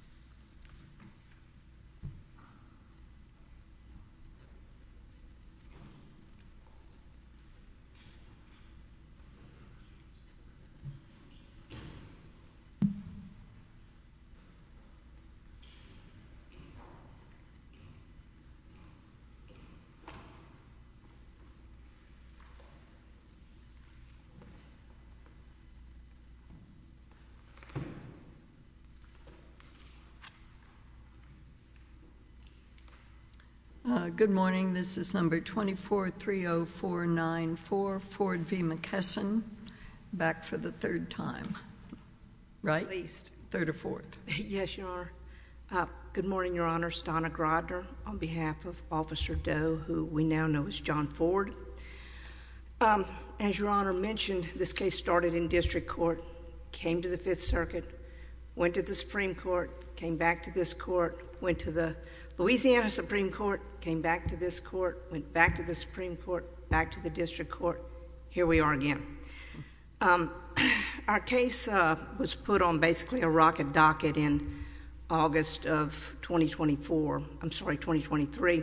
v. McKesson v. McKesson Good morning, this is number 2430494, Ford v. McKesson, back for the third time. Right? Third or fourth. Yes, Your Honor. Good morning, Your Honor. Stana Grodner on behalf of Officer Doe, who we now know as John Ford. As Your Honor mentioned, this case started in district court, came to the Fifth Circuit, went to the Supreme Court, came back to this court, went to the Louisiana Supreme Court, came back to this court, went back to the Supreme Court, back to the district court. Here we are again. Our case was put on basically a rocket docket in August of 2024—I'm sorry, 2023.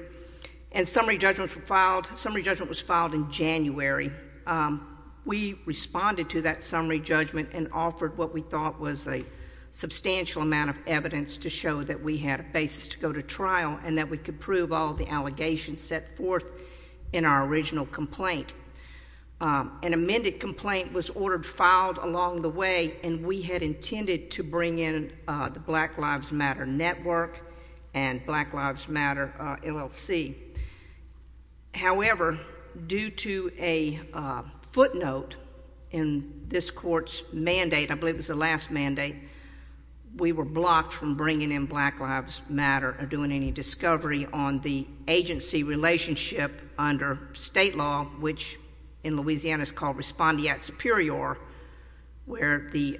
And summary judgments were filed. Summary judgment was filed in January. We responded to that summary judgment and offered what we thought was a substantial amount of evidence to show that we had a basis to go to trial and that we could prove all the allegations set forth in our original complaint. An amended complaint was ordered filed along the way, and we had intended to bring in the Black Lives Matter Network and Black Lives Matter LLC. However, due to a footnote in this court's mandate, I believe it was the last mandate, we were blocked from bringing in Black Lives Matter or doing any discovery on the agency relationship under state law, which in Louisiana is called respondeat superior, where the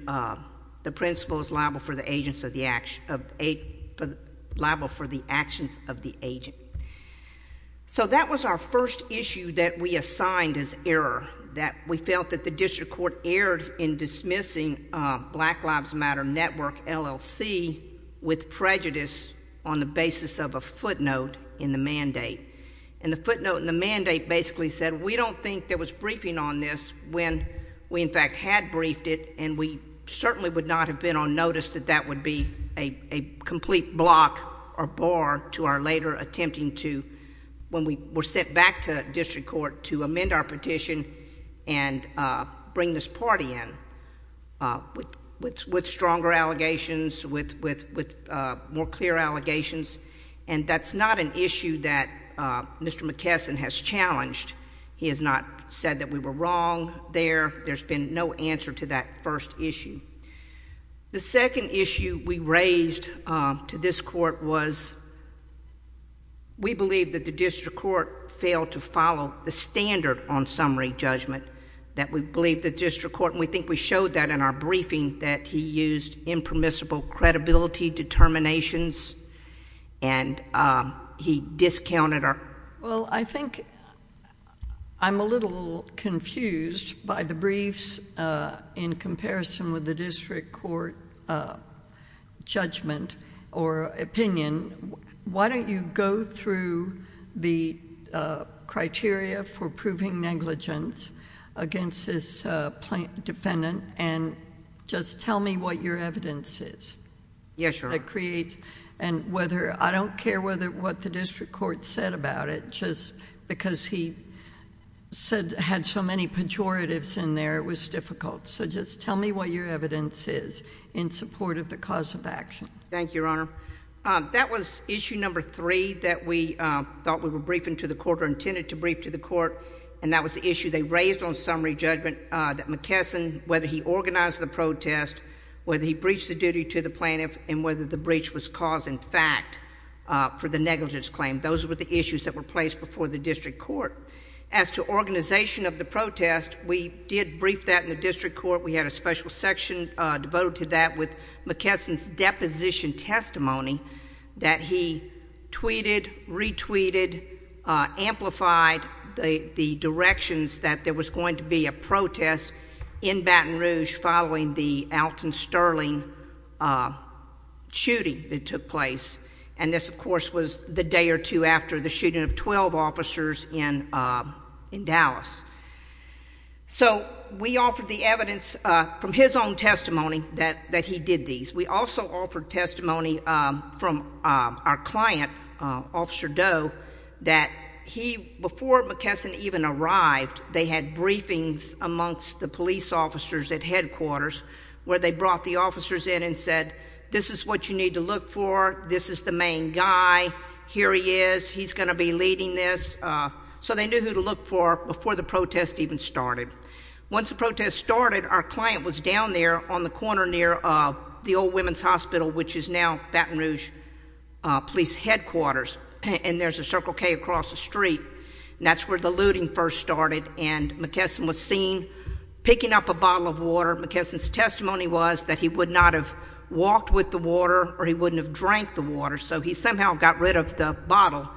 principal is liable for the actions of the agent. So that was our first issue that we assigned as error, that we felt that the district court erred in dismissing Black Lives Matter Network LLC with prejudice on the basis of a footnote in the mandate. And the footnote in the mandate basically said, we don't think there was briefing on this when we, in fact, had briefed it, and we certainly would not have been on notice that that would be a complete block or bar to our later attempting to, when we were sent back to district court to amend our petition and bring this party in with stronger allegations, with more clear allegations. And that's not an issue that Mr. McKesson has challenged. He has not said that we were wrong there. There's been no answer to that first issue. The second issue we raised to this court was, we believe that the district court failed to follow the standard on summary judgment, that we believe the district court, and we think we showed that in our briefing, that he used impermissible credibility determinations and he discounted our... Well, I think I'm a little confused by the briefs in comparison with the district court judgment or opinion. Why don't you go through the criteria for proving negligence against this defendant and just tell me what your evidence is that creates... I don't care what the district court said about it, just because he had so many pejoratives in there, it was difficult. So just tell me what your evidence is in support of the cause of action. Thank you, Your Honor. That was issue number three that we thought we were briefing to the court or intended to brief to the court, and that was the issue they raised on summary judgment, that McKesson, whether he organized the protest, whether he breached the duty to the plaintiff, and whether the breach was cause and fact for the negligence claim. Those were the issues that were placed before the district court. As to organization of the protest, we did brief that in the district court. We had a special section devoted to that with McKesson's deposition testimony that he tweeted, retweeted, amplified the directions that there was going to be a protest in Baton Rouge following the Alton Sterling shooting that took place, and this, of course, was the day or two after the shooting of 12 officers in Dallas. So we offered the evidence from his own testimony that he did these. We also offered testimony from our client, Officer Doe, that he, before McKesson even arrived, they had briefings amongst the police officers at headquarters where they brought the officers in and said, this is what you need to look for. This is the main guy. Here he is. He's going to be leading this. So they knew who to look for before the protest even started. Once the protest started, our client was down there on the corner near the old women's hospital, which is now Baton Rouge Police Headquarters, and there's a Circle K across the street. And that's where the looting first started, and McKesson was seen picking up a bottle of water. McKesson's testimony was that he would not have walked with the water or he wouldn't have drank the water, so he somehow got rid of the bottle.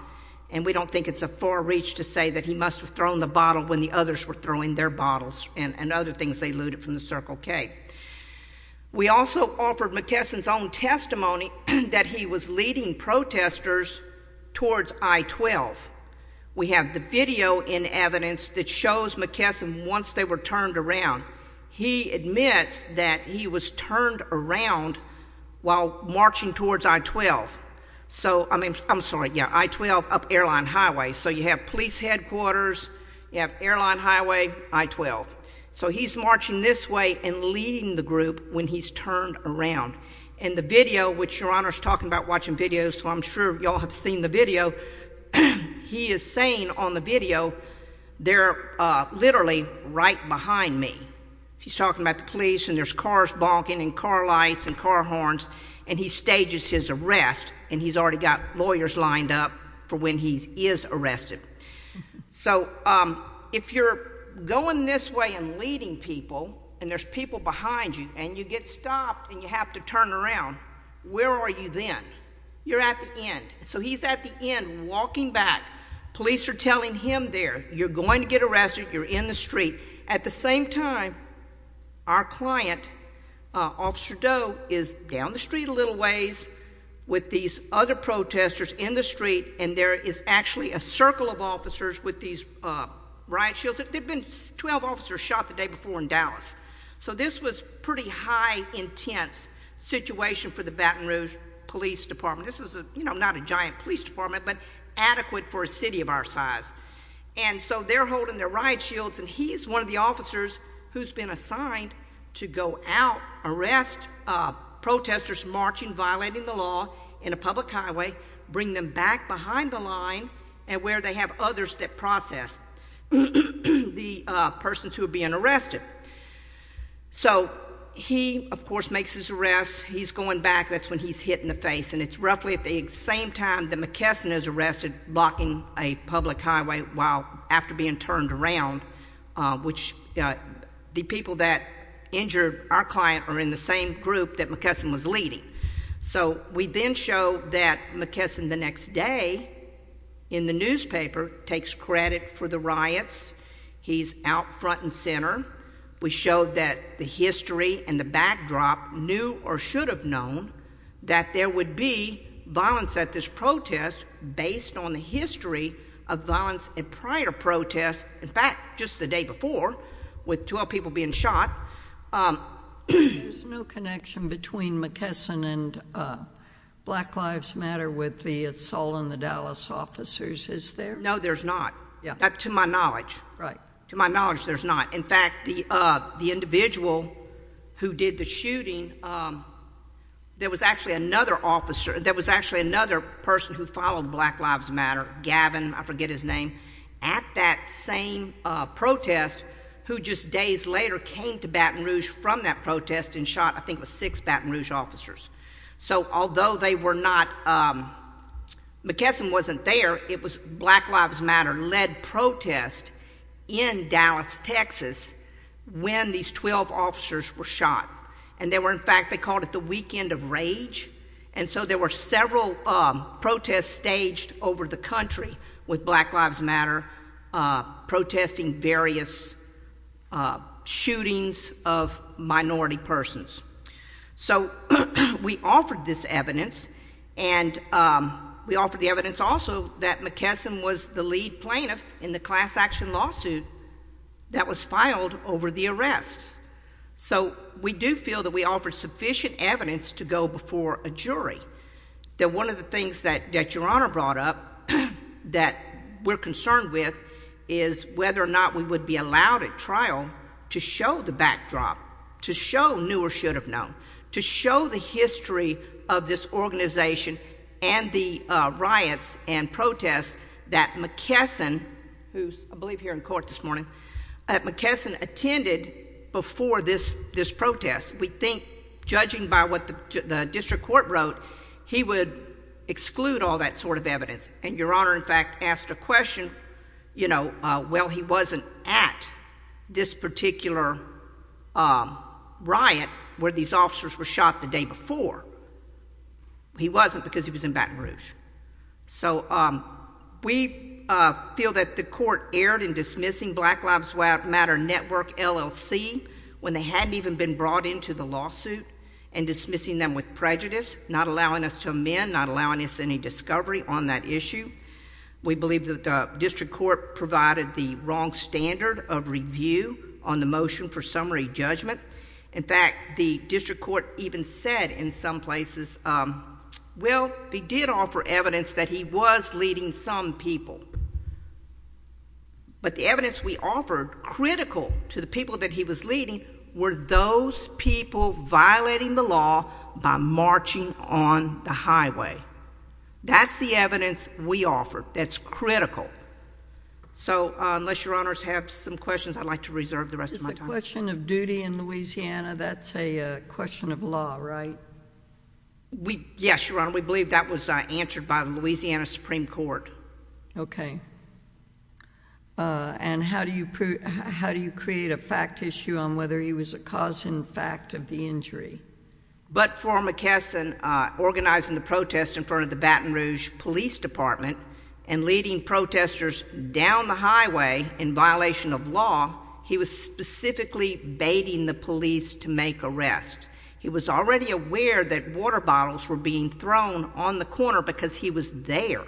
And we don't think it's a far reach to say that he must have thrown the bottle when the others were throwing their bottles and other things they looted from the Circle K. We also offered McKesson's own testimony that he was leading protesters towards I-12. We have the video in evidence that shows McKesson once they were turned around. He admits that he was turned around while marching towards I-12. So I mean, I'm sorry, yeah, I-12 up Airline Highway. So you have police headquarters, you have Airline Highway, I-12. So he's marching this way and leading the group when he's turned around. And the video, which Your Honor's talking about watching videos, so I'm sure you all have seen the video, he is saying on the video, they're literally right behind me. He's talking about the police and there's cars bonking and car lights and car horns, and he stages his arrest and he's already got lawyers lined up for when he is arrested. So if you're going this way and leading people and there's people behind you and you get stopped and you have to turn around, where are you then? You're at the end. So he's at the end walking back. Police are telling him there, you're going to get arrested, you're in the street. At the same time, our client, Officer Doe, is down the street a little ways with these other protesters in the street and there is actually a circle of officers with these riot shields. There have been 12 officers shot the day before in Dallas. So this was pretty high intense situation for the Baton Rouge Police Department. This is, you know, not a giant police department, but adequate for a city of our size. And so they're holding their riot shields and he's one of the officers who's been assigned to go out, arrest protesters marching, violating the law in a public highway, bring them back behind the line and where they have others that process the persons who are being arrested. So he, of course, makes his arrest. He's going back. That's when he's hitting the face and it's roughly at the same time that McKesson is arrested blocking a public highway while after being turned around, which the people that injured our client are in the same group that McKesson was leading. So we then show that McKesson the next day in the newspaper takes credit for the riots. He's out front and center. We showed that the history and the backdrop knew or should have known that there would be violence at this protest based on the history of violence and prior protests. In fact, just the day before with 12 people being shot. There's no connection between McKesson and Black Lives Matter with the assault on the Dallas officers, is there? No, there's not. Yeah. To my knowledge. Right. To my knowledge, there's not. In fact, the individual who did the shooting, there was actually another officer, there was actually another person who followed Black Lives Matter, Gavin, I forget his name, at that same protest who just days later came to Baton Rouge from that protest and shot I think it was six Baton Rouge officers. So although they were not, McKesson wasn't there. It was Black Lives Matter led protest in Dallas, Texas when these 12 officers were shot. And they were in fact, they called it the weekend of rage. And so there were several protests staged over the country with Black Lives Matter protesting various shootings of minority persons. So we offered this evidence and we offered the evidence also that McKesson was the lead plaintiff in the class action lawsuit that was filed over the arrests. So we do feel that we offered sufficient evidence to go before a jury. That one of the things that Your Honor brought up that we're concerned with is whether or not we would be allowed at trial to show the backdrop, to show new or should have known, to show the history of this organization and the riots and protests that McKesson, who's I believe here in court this morning, that McKesson attended before this protest. We think judging by what the district court wrote, he would exclude all that sort of evidence. And Your Honor in fact asked a question, you know, well he wasn't at this particular riot where these officers were shot the day before. He wasn't because he was in Baton Rouge. So we feel that the court erred in dismissing Black Lives Matter Network LLC when they hadn't even been brought into the lawsuit and dismissing them with prejudice, not allowing us to amend, not allowing us any discovery on that issue. We believe that the district court provided the wrong standard of review on the motion for summary judgment. In fact, the district court even said in some places, well, they did offer evidence that he was leading some people. But the evidence we offered critical to the people that he was leading were those people violating the law by marching on the highway. That's the evidence we offered that's critical. So unless Your Honors have some questions, I'd like to reserve the rest of my time. Is the question of duty in Louisiana, that's a question of law, right? Yes, Your Honor. We believe that was answered by the Louisiana Supreme Court. Okay. And how do you create a fact issue on whether he was a cause in fact of the injury? But for McKesson, organizing the protest in front of the Baton Rouge Police Department and leading protesters down the highway in violation of law, he was specifically baiting the police to make arrests. He was already aware that water bottles were being thrown on the corner because he was there.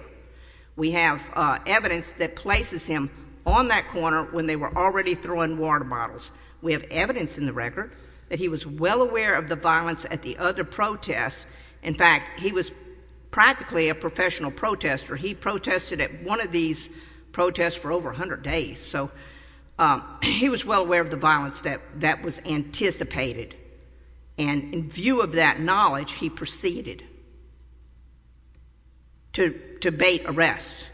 We have evidence that places him on that corner when they were already throwing water bottles. We have evidence in the record that he was well aware of the violence at the other protests. In fact, he was practically a professional protester. He protested at one of these protests for over 100 days. So he was well aware of the violence that was anticipated. And in view of that knowledge, he proceeded to bait arrests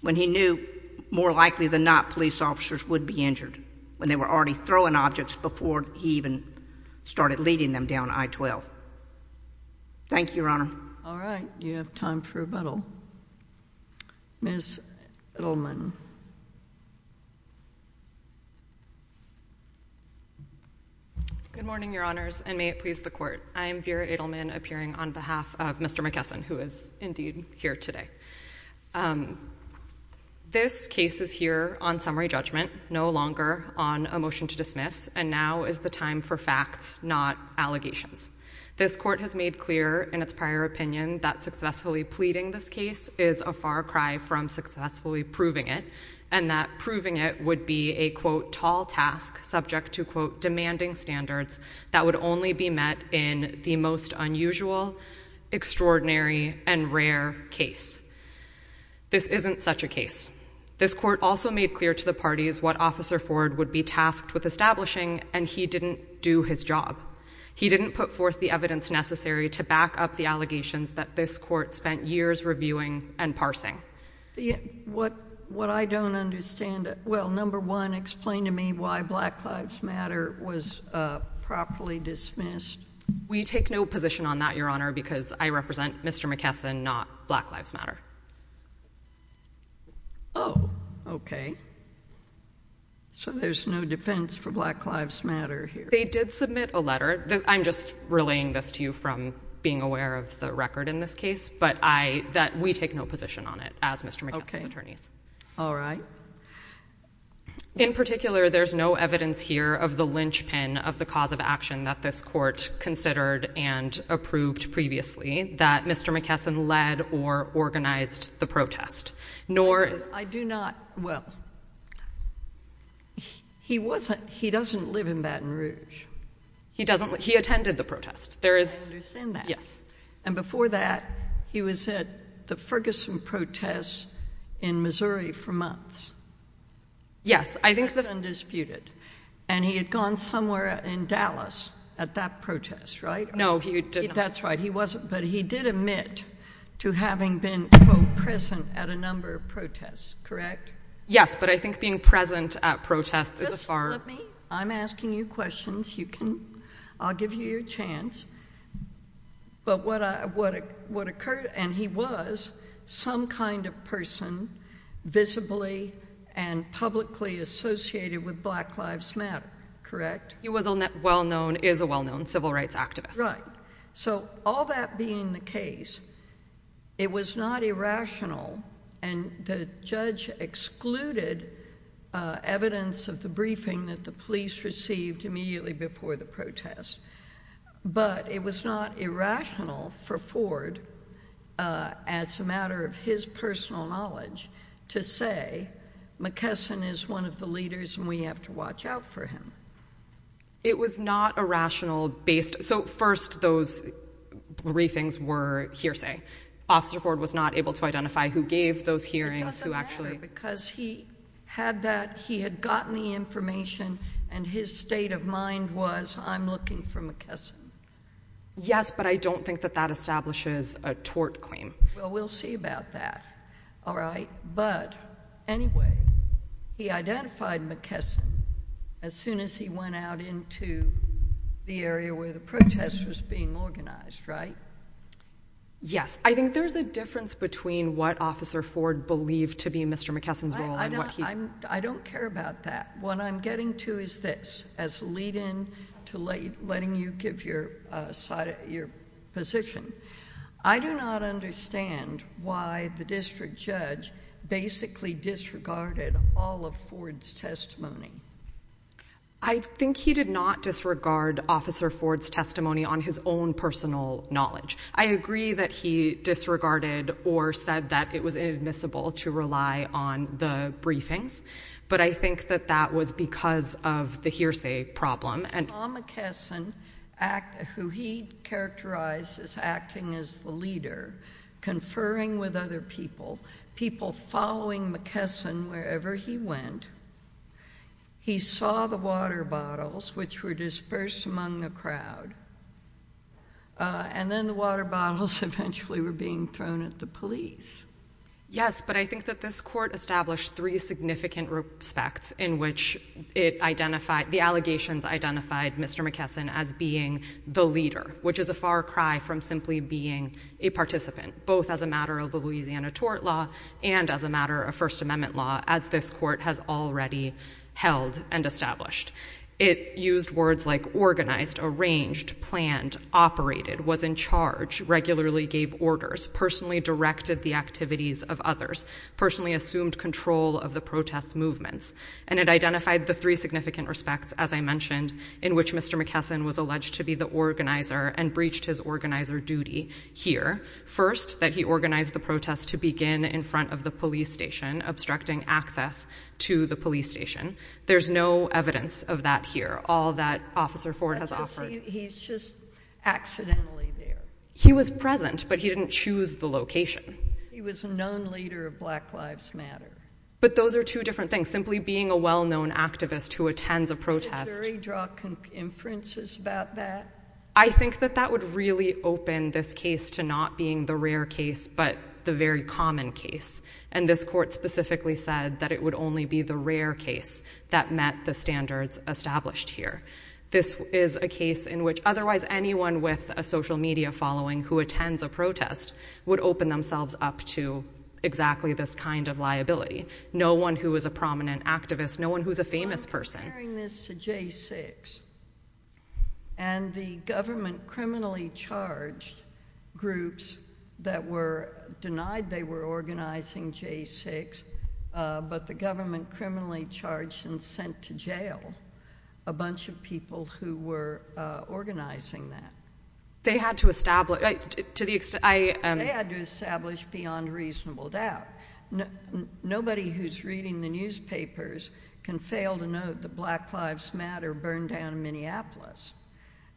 when he knew more likely than not police officers would be injured, when they were already throwing objects before he even started leading them down I-12. Thank you, Your Honor. All right. You have time for rebuttal. Ms. Edelman. Good morning, Your Honors, and may it please the Court. I am Vera Edelman, appearing on behalf of Mr. McKesson, who is indeed here today. This case is here on summary judgment, no longer on a motion to dismiss, and now is the time for facts, not allegations. This Court has made clear in its prior opinion that successfully pleading this case is a far cry from successfully proving it, and that proving it would be a, quote, tall task subject to, quote, demanding standards that would only be met in the most unusual, extraordinary, and rare case. This isn't such a case. This Court also made clear to the parties what Officer Ford would be tasked with establishing, and he didn't do his job. He didn't put forth the evidence necessary to back up the allegations that this Court spent years reviewing and parsing. What I don't understand, well, number one, explain to me why Black Lives Matter was properly dismissed. We take no position on that, Your Honor, because I represent Mr. McKesson, not Black Lives Matter. Oh. Okay. So there's no defense for Black Lives Matter here. They did submit a letter. I'm just relaying this to you from being aware of the record in this case, but I, that we take no position on it as Mr. McKesson's attorneys. All right. In particular, there's no evidence here of the linchpin of the cause of action that this Court considered and approved previously that Mr. McKesson led or organized the protest, nor... I do not, well, he wasn't, he doesn't live in Baton Rouge. He doesn't, he attended the protest. There is... I understand that. And before that, he was at the Ferguson protests in Missouri for months. Yes. I think that... Undisputed. And he had gone somewhere in Dallas at that protest, right? No, he did not. That's right. He wasn't, but he did admit to having been, quote, present at a number of protests, correct? Yes, but I think being present at protests is a far... Let me... I'm asking you questions. You can, I'll give you your chance, but what occurred, and he was, some kind of person visibly and publicly associated with Black Lives Matter, correct? He was a well-known, is a well-known civil rights activist. Right. So all that being the case, it was not irrational, and the judge excluded evidence of the briefing that the police received immediately before the protest, but it was not irrational for Ford, as a matter of his personal knowledge, to say, McKesson is one of the leaders and we have to watch out for him. It was not a rational based... So first, those briefings were hearsay. Officer Ford was not able to identify who gave those hearings, who actually... Because he had that, he had gotten the information, and his state of mind was, I'm looking for McKesson. Yes, but I don't think that that establishes a tort claim. Well, we'll see about that, all right, but anyway, he identified McKesson as soon as he went out into the area where the protest was being organized, right? Yes, I think there's a difference between what Officer Ford believed to be Mr. McKesson's role and what he... I don't care about that. What I'm getting to is this, as a lead-in to letting you give your side, your position. I do not understand why the district judge basically disregarded all of Ford's testimony. I think he did not disregard Officer Ford's testimony on his own personal knowledge. I agree that he disregarded or said that it was inadmissible to rely on the briefings, but I think that that was because of the hearsay problem. Tom McKesson, who he characterized as acting as the leader, conferring with other people, people following McKesson wherever he went, he saw the water bottles, which were dispersed among the crowd, and then the water bottles eventually were being thrown at the police. Yes, but I think that this court established three significant respects in which the allegations identified Mr. McKesson as being the leader, which is a far cry from simply being a participant, both as a matter of a Louisiana tort law and as a matter of First Amendment law, as this court has already held and established. It used words like organized, arranged, planned, operated, was in charge, regularly gave orders, personally directed the activities of others, personally assumed control of the protest movements, and it identified the three significant respects, as I mentioned, in which Mr. McKesson was alleged to be the organizer and breached his organizer duty here. First, that he organized the protest to begin in front of the police station, obstructing access to the police station. There's no evidence of that here, all that Officer Ford has offered. He's just accidentally there. He was present, but he didn't choose the location. He was a known leader of Black Lives Matter. But those are two different things. Simply being a well-known activist who attends a protest. Did the jury draw inferences about that? I think that that would really open this case to not being the rare case, but the very common case. And this court specifically said that it would only be the rare case that met the standards established here. This is a case in which otherwise anyone with a social media following who attends a protest would open themselves up to exactly this kind of liability. No one who is a prominent activist, no one who's a famous person. I'm comparing this to J6. And the government criminally charged groups that were denied they were organizing J6, but the government criminally charged and sent to jail a bunch of people who were organizing that. They had to establish, to the extent, I... They had to establish beyond reasonable doubt. Nobody who's reading the newspapers can fail to note that Black Lives Matter burned down in Minneapolis.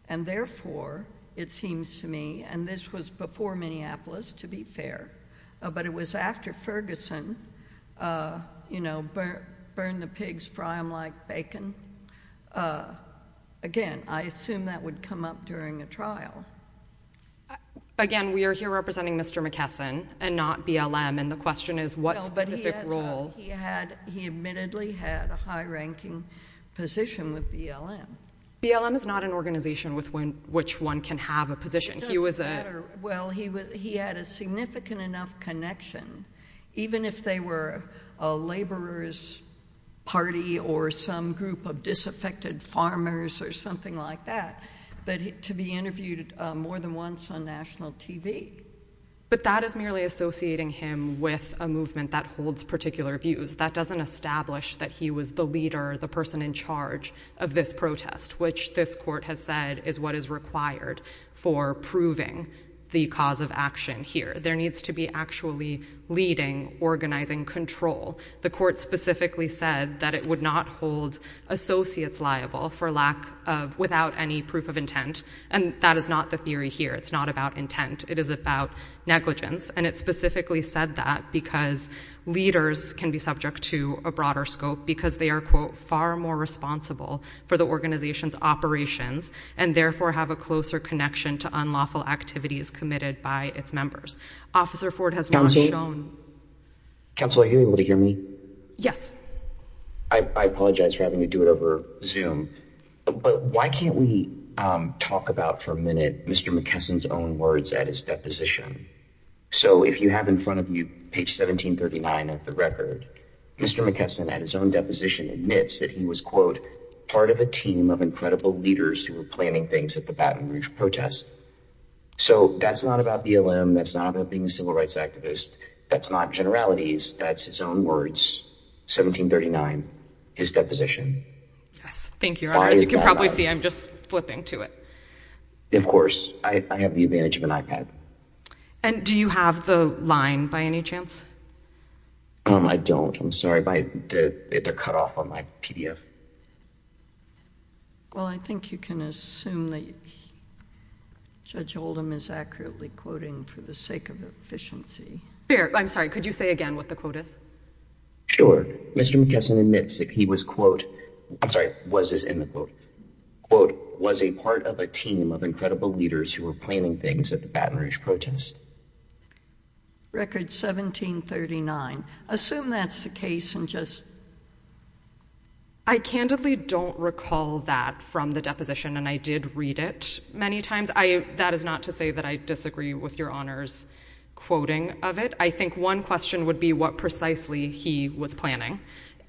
And therefore, it seems to me, and this was before Minneapolis, to be fair, but it was after Ferguson, you know, burn the pigs, fry them like bacon. Again, I assume that would come up during a trial. Again, we are here representing Mr. McKesson and not BLM, and the question is, what's the specific role? Well, but he admittedly had a high-ranking position with BLM. BLM is not an organization with which one can have a position. He was a... It doesn't matter. Well, he had a significant enough connection, even if they were a laborer's party or some group of disaffected farmers or something like that, but to be interviewed more than once on national TV. But that is merely associating him with a movement that holds particular views. That doesn't establish that he was the leader, the person in charge of this protest, which this court has said is what is required for proving the cause of action here. There needs to be actually leading, organizing control. The court specifically said that it would not hold associates liable for lack of, without any proof of intent, and that is not the theory here. It's not about intent. It is about negligence, and it specifically said that because leaders can be subject to a broader scope because they are, quote, far more responsible for the organization's operations and therefore have a closer connection to unlawful activities committed by its members. Officer Ford has not shown... Counsel, are you able to hear me? Yes. I apologize for having to do it over Zoom, but why can't we talk about for a minute Mr. McKesson's own words at his deposition? So if you have in front of you page 1739 of the record, Mr. McKesson at his own deposition admits that he was, quote, part of a team of incredible leaders who were planning things at the Baton Rouge protest. So that's not about BLM. That's not about being a civil rights activist. That's not generalities. That's his own words, 1739, his deposition. Yes. Thank you, Your Honor. As you can probably see, I'm just flipping to it. Of course. I have the advantage of an iPad. And do you have the line by any chance? I don't. I'm sorry. They're cut off on my PDF. Well, I think you can assume that Judge Oldham is accurately quoting for the sake of efficiency. I'm sorry. Could you say again what the quote is? Mr. McKesson admits that he was, quote, I'm sorry, was as in the quote, quote, was a part of a team of incredible leaders who were planning things at the Baton Rouge protest. Record 1739. Assume that's the case and just... I candidly don't recall that from the deposition. And I did read it many times. That is not to say that I disagree with Your Honor's quoting of it. I think one question would be what precisely he was planning.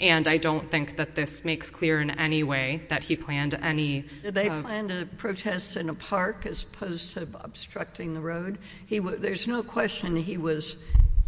And I don't think that this makes clear in any way that he planned any... Did they plan to protest in a park as opposed to obstructing the road? There's no question he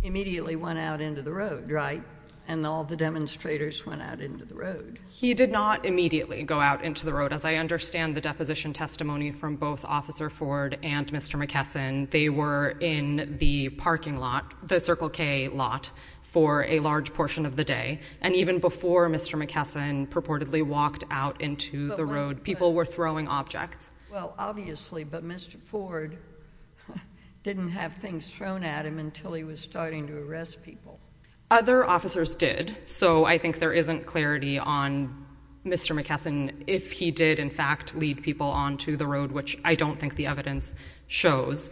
immediately went out into the road, right? And all the demonstrators went out into the road. He did not immediately go out into the road. As I understand the deposition testimony from both Officer Ford and Mr. McKesson, they were in the parking lot, the Circle K lot, for a large portion of the day. And even before Mr. McKesson purportedly walked out into the road, people were throwing objects. Well, obviously, but Mr. Ford didn't have things thrown at him until he was starting to arrest people. Other officers did. So I think there isn't clarity on Mr. McKesson, if he did in fact lead people onto the road, which I don't think the evidence shows,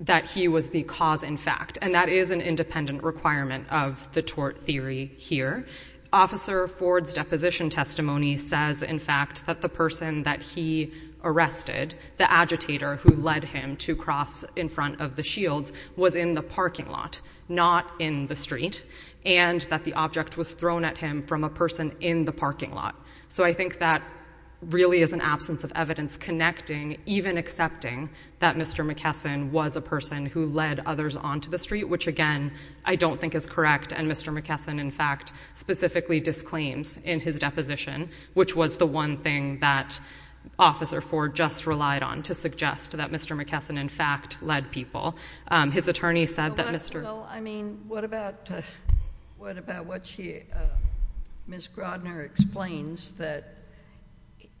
that he was the cause in fact. And that is an independent requirement of the tort theory here. Officer Ford's deposition testimony says, in fact, that the person that he arrested, the agitator who led him to cross in front of the shields, was in the parking lot, not in the street, and that the object was thrown at him from a person in the parking lot. So I think that really is an absence of evidence connecting, even accepting, that Mr. McKesson was a person who led others onto the street, which again, I don't think is correct. And Mr. McKesson, in fact, specifically disclaims in his deposition, which was the one thing that Officer Ford just relied on to suggest that Mr. McKesson, in fact, led people. His attorney said that Mr. Well, I mean, what about what she, Ms. Grodner explains, that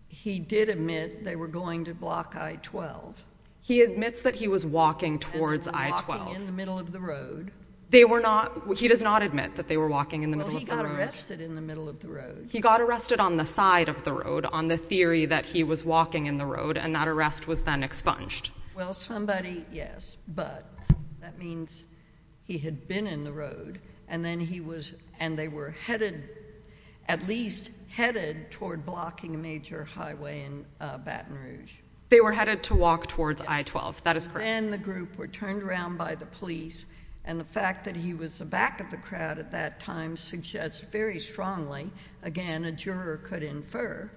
he did admit they were going to block I-12. He admits that he was walking towards I-12. And walking in the middle of the road. They were not, he does not admit that they were walking in the middle of the road. Well, he got arrested in the middle of the road. He got arrested on the side of the road, on the theory that he was walking in the road, and that arrest was then expunged. Well, somebody, yes, but that means he had been in the road, and then he was, and they were headed, at least headed toward blocking a major highway in Baton Rouge. They were headed to walk towards I-12. That is correct. He and the group were turned around by the police, and the fact that he was the back of the crowd at that time suggests very strongly, again, a juror could infer,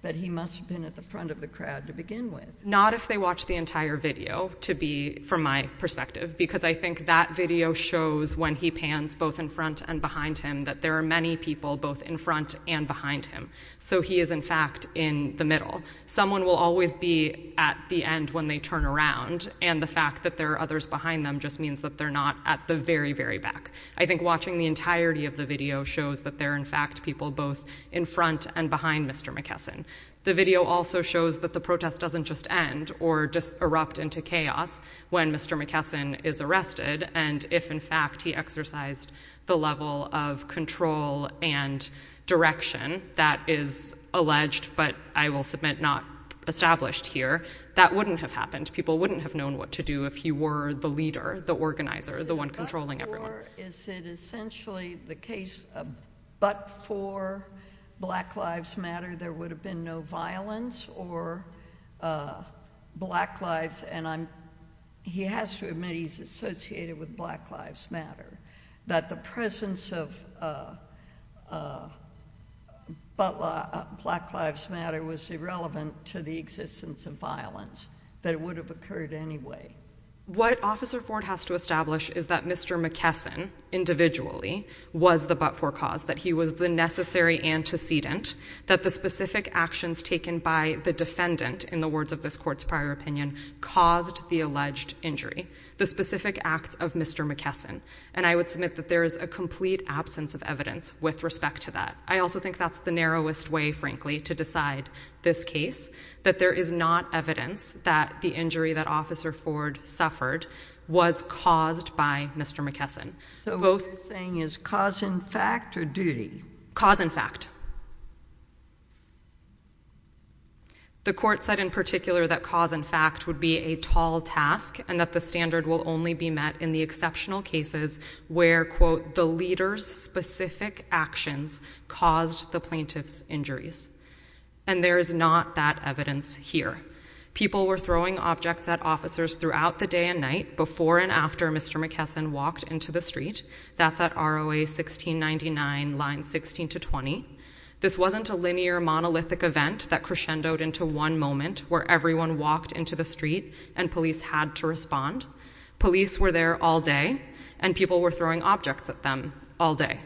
that he must have been at the front of the crowd to begin with. Not if they watch the entire video, to be, from my perspective, because I think that video shows, when he pans both in front and behind him, that there are many people both in front and behind him. So he is, in fact, in the middle. Someone will always be at the end when they turn around, and the fact that there are others behind them just means that they're not at the very, very back. I think watching the entirety of the video shows that there are, in fact, people both in front and behind Mr. McKesson. The video also shows that the protest doesn't just end or just erupt into chaos when Mr. McKesson is arrested, and if, in fact, he exercised the level of control and direction that is alleged, but I will submit not established here, that wouldn't have happened. People wouldn't have known what to do if he were the leader, the organizer, the one controlling everyone. Is it essentially the case, but for Black Lives Matter, there would have been no violence or Black Lives, and he has to admit he's associated with Black Lives Matter, that the presence of Black Lives Matter was irrelevant to the existence of violence, that it would have occurred anyway. What Officer Ford has to establish is that Mr. McKesson, individually, was the but-for cause, that he was the necessary antecedent, that the specific actions taken by the defendant, in the words of this court's prior opinion, caused the alleged injury. The specific acts of Mr. McKesson, and I would submit that there is a complete absence of evidence with respect to that. I also think that's the narrowest way, frankly, to decide this case, that there is not evidence that the injury that Officer Ford suffered was caused by Mr. McKesson. So what you're saying is cause and fact or duty? Cause and fact. The court said, in particular, that cause and fact would be a tall task and that the standard will only be met in the exceptional cases where, quote, the leader's specific actions caused the plaintiff's injuries, and there is not that evidence here. People were throwing objects at officers throughout the day and night, before and after Mr. McKesson walked into the street. That's at ROA 1699, line 16 to 20. This wasn't a linear, monolithic event that crescendoed into one moment where everyone walked into the street and police had to respond. Police were there all day, and people were throwing objects at them all day.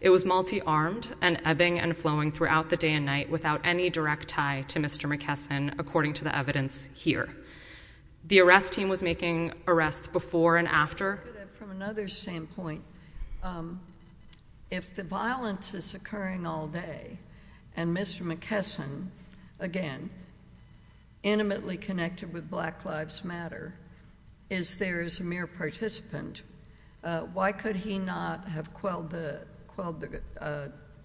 It was multi-armed and ebbing and flowing throughout the day and night without any direct tie to Mr. McKesson, according to the evidence here. The arrest team was making arrests before and after. From another standpoint, if the violence is occurring all day, and Mr. McKesson, again, intimately connected with Black Lives Matter, is there as a mere participant, why could he not have quelled the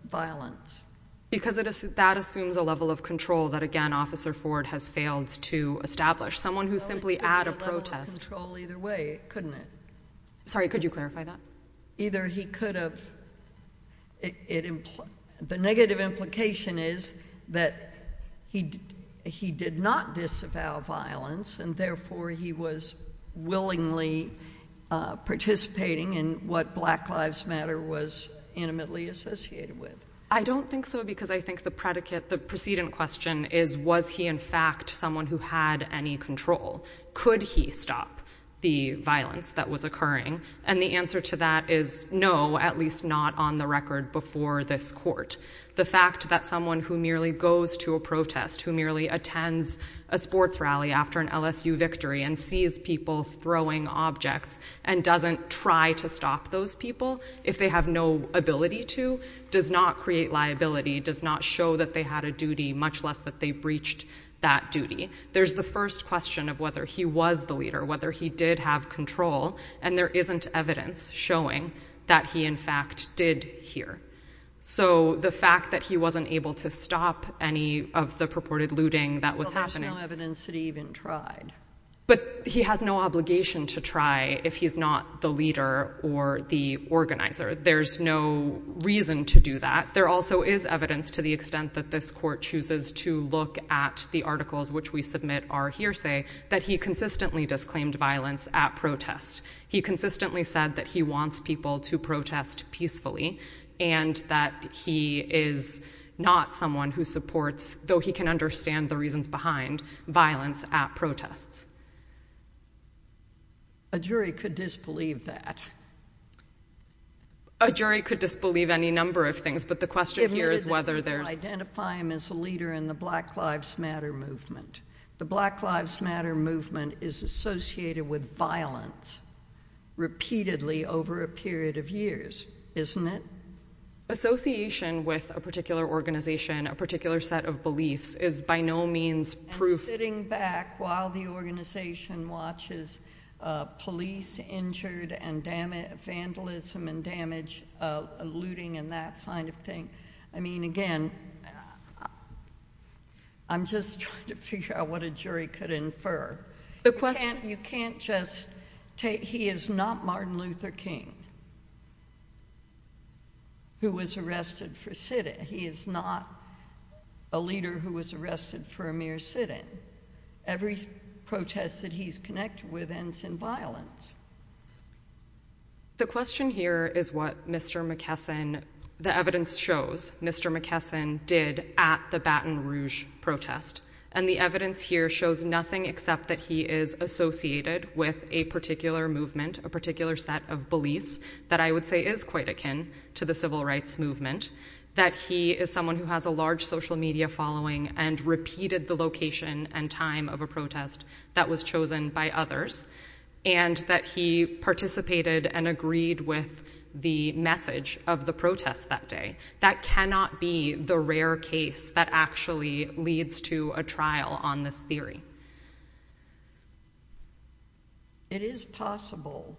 violence? Because that assumes a level of control that, again, Officer Ford has failed to establish. Someone who's simply at a protest. It was a control either way, couldn't it? Sorry, could you clarify that? Either he could have... The negative implication is that he did not disavow violence, and therefore he was willingly participating in what Black Lives Matter was intimately associated with. I don't think so, because I think the precedent question is, was he in fact someone who had any control? Could he stop the violence that was occurring? And the answer to that is no, at least not on the record before this court. The fact that someone who merely goes to a protest, who merely attends a sports rally after an LSU victory and sees people throwing objects and doesn't try to stop those people if they have no ability to, does not create liability, does not show that they had a duty, much less that they breached that duty. There's the first question of whether he was the leader, whether he did have control, and there isn't evidence showing that he, in fact, did here. So, the fact that he wasn't able to stop any of the purported looting that was happening- There's no evidence that he even tried. But he has no obligation to try if he's not the leader or the organizer. There's no reason to do that. There also is evidence, to the extent that this court chooses to look at the articles which we submit are hearsay, that he consistently disclaimed violence at protests. He consistently said that he wants people to protest peacefully and that he is not someone who supports, though he can understand the reasons behind, violence at protests. A jury could disbelieve that. A jury could disbelieve any number of things, but the question here is whether there's- The Black Lives Matter movement is associated with violence repeatedly over a period of years, isn't it? Association with a particular organization, a particular set of beliefs, is by no means proof- Sitting back while the organization watches police injured and vandalism and damage, looting and that kind of thing. I mean, again, I'm just trying to figure out what a jury could infer. The question- You can't just take- He is not Martin Luther King who was arrested for sit-in. He is not a leader who was arrested for a mere sit-in. Every protest that he's connected with ends in violence. The question here is what Mr. McKesson, the evidence shows, Mr. McKesson did at the Baton Rouge protest, and the evidence here shows nothing except that he is associated with a particular movement, a particular set of beliefs that I would say is quite akin to the civil rights movement, that he is someone who has a large social media following and repeated the location and time of a protest that was chosen by others, and that he is participated and agreed with the message of the protest that day. That cannot be the rare case that actually leads to a trial on this theory. It is possible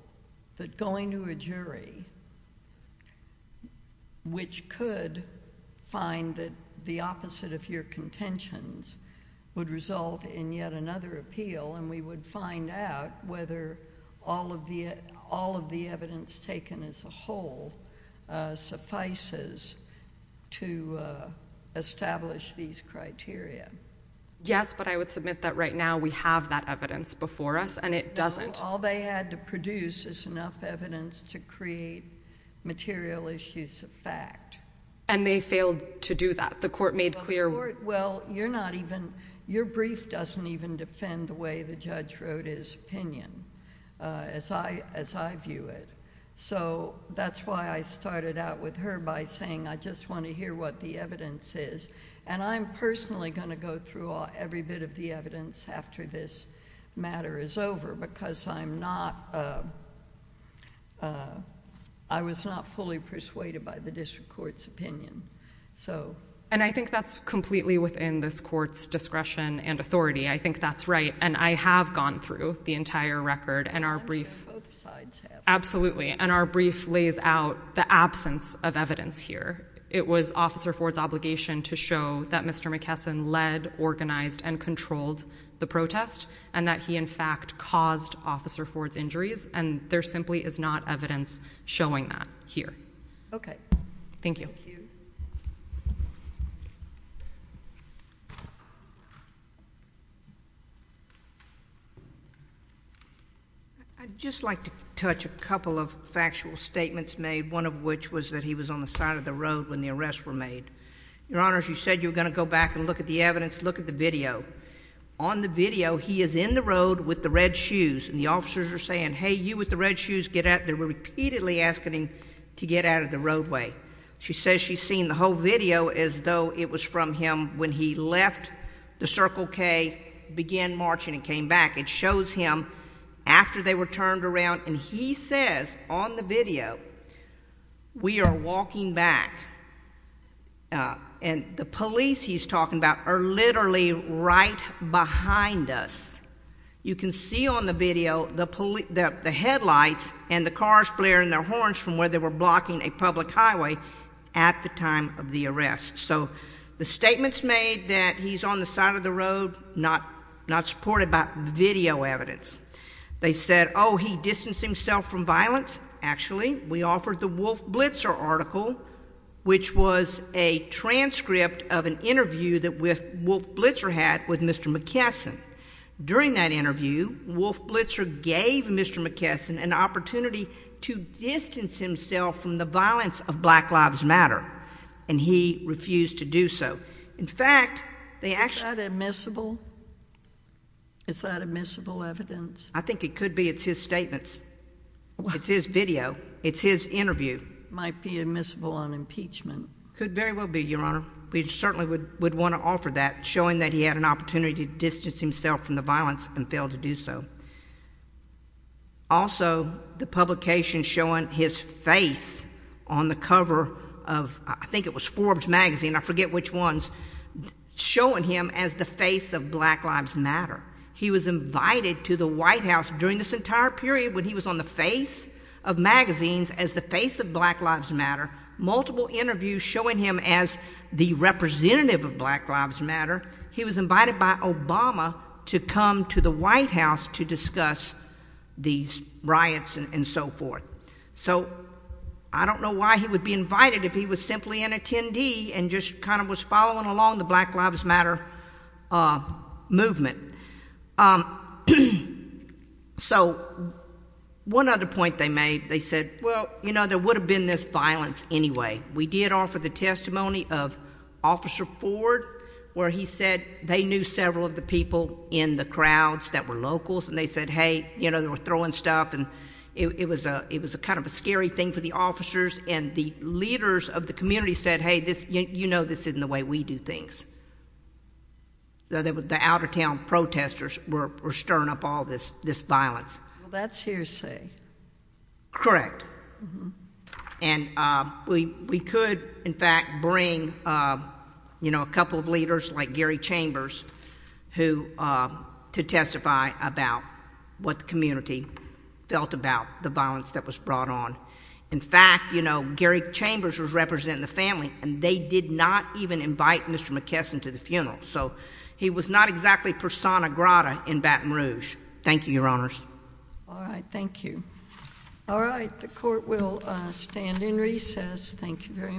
that going to a jury, which could find that the opposite of your contentions would result in yet another appeal, and we would find out whether all of the evidence taken as a whole suffices to establish these criteria. Yes, but I would submit that right now we have that evidence before us, and it doesn't. All they had to produce is enough evidence to create material issues of fact. And they failed to do that. The court made clear- Well, your brief doesn't even defend the way the judge wrote his opinion, as I view it. So that's why I started out with her by saying, I just want to hear what the evidence is. And I'm personally going to go through every bit of the evidence after this matter is over, because I was not fully persuaded by the district court's opinion. So- And I think that's completely within this court's discretion and authority. I think that's right. And I have gone through the entire record. And our brief- Both sides have. Absolutely. And our brief lays out the absence of evidence here. It was Officer Ford's obligation to show that Mr. McKesson led, organized, and controlled the protest, and that he, in fact, caused Officer Ford's injuries. And there simply is not evidence showing that here. Okay. Thank you. Thank you. I'd just like to touch a couple of factual statements made, one of which was that he was on the side of the road when the arrests were made. Your Honor, you said you were going to go back and look at the evidence. Look at the video. On the video, he is in the road with the red shoes. And the officers are saying, hey, you with the red shoes, get out. They were repeatedly asking him to get out of the roadway. She says she's seen the whole video as though it was from him when he left the Circle K, began marching, and came back. It shows him after they were turned around. And he says, on the video, we are walking back. And the police he's talking about are literally right behind us. You can see on the video the headlights and the cars blaring their horns from where they were blocking a public highway at the time of the arrest. So the statements made that he's on the side of the road, not supported by video evidence. They said, oh, he distanced himself from violence. Actually, we offered the Wolf Blitzer article, which was a transcript of an interview that Wolf Blitzer had with Mr. McKesson. During that interview, Wolf Blitzer gave Mr. McKesson an opportunity to distance himself from the violence of Black Lives Matter. And he refused to do so. In fact, they actually— Is that admissible evidence? I think it could be. It's his statements. It's his video. It's his interview. Might be admissible on impeachment. Could very well be, Your Honor. We certainly would want to offer that, showing that he had an opportunity to distance himself from the violence and failed to do so. Also, the publication showing his face on the cover of, I think it was Forbes magazine, I forget which ones, showing him as the face of Black Lives Matter. He was invited to the White House during this entire period when he was on the face of magazines as the face of Black Lives Matter. Multiple interviews showing him as the representative of Black Lives Matter. He was invited by Obama to come to the White House to discuss these riots and so forth. So I don't know why he would be invited if he was simply an attendee and just kind of was following along the Black Lives Matter movement. So one other point they made, they said, well, you know, there would have been this violence anyway. We did offer the testimony of Officer Ford, where he said they knew several of the people in the crowds that were locals. And they said, hey, you know, they were throwing stuff. And it was a kind of a scary thing for the officers. And the leaders of the community said, hey, you know this isn't the way we do things. So the out-of-town protesters were stirring up all this violence. Well, that's hearsay. Correct. And we could, in fact, bring, you know, a couple of leaders like Gary Chambers to testify about what the community felt about the violence that was brought on. In fact, you know, Gary Chambers was representing the family, and they did not even invite Mr. McKesson to the funeral. So he was not exactly persona grata in Baton Rouge. Thank you, Your Honors. All right. Thank you. All right. The court will stand in recess. Thank you very much.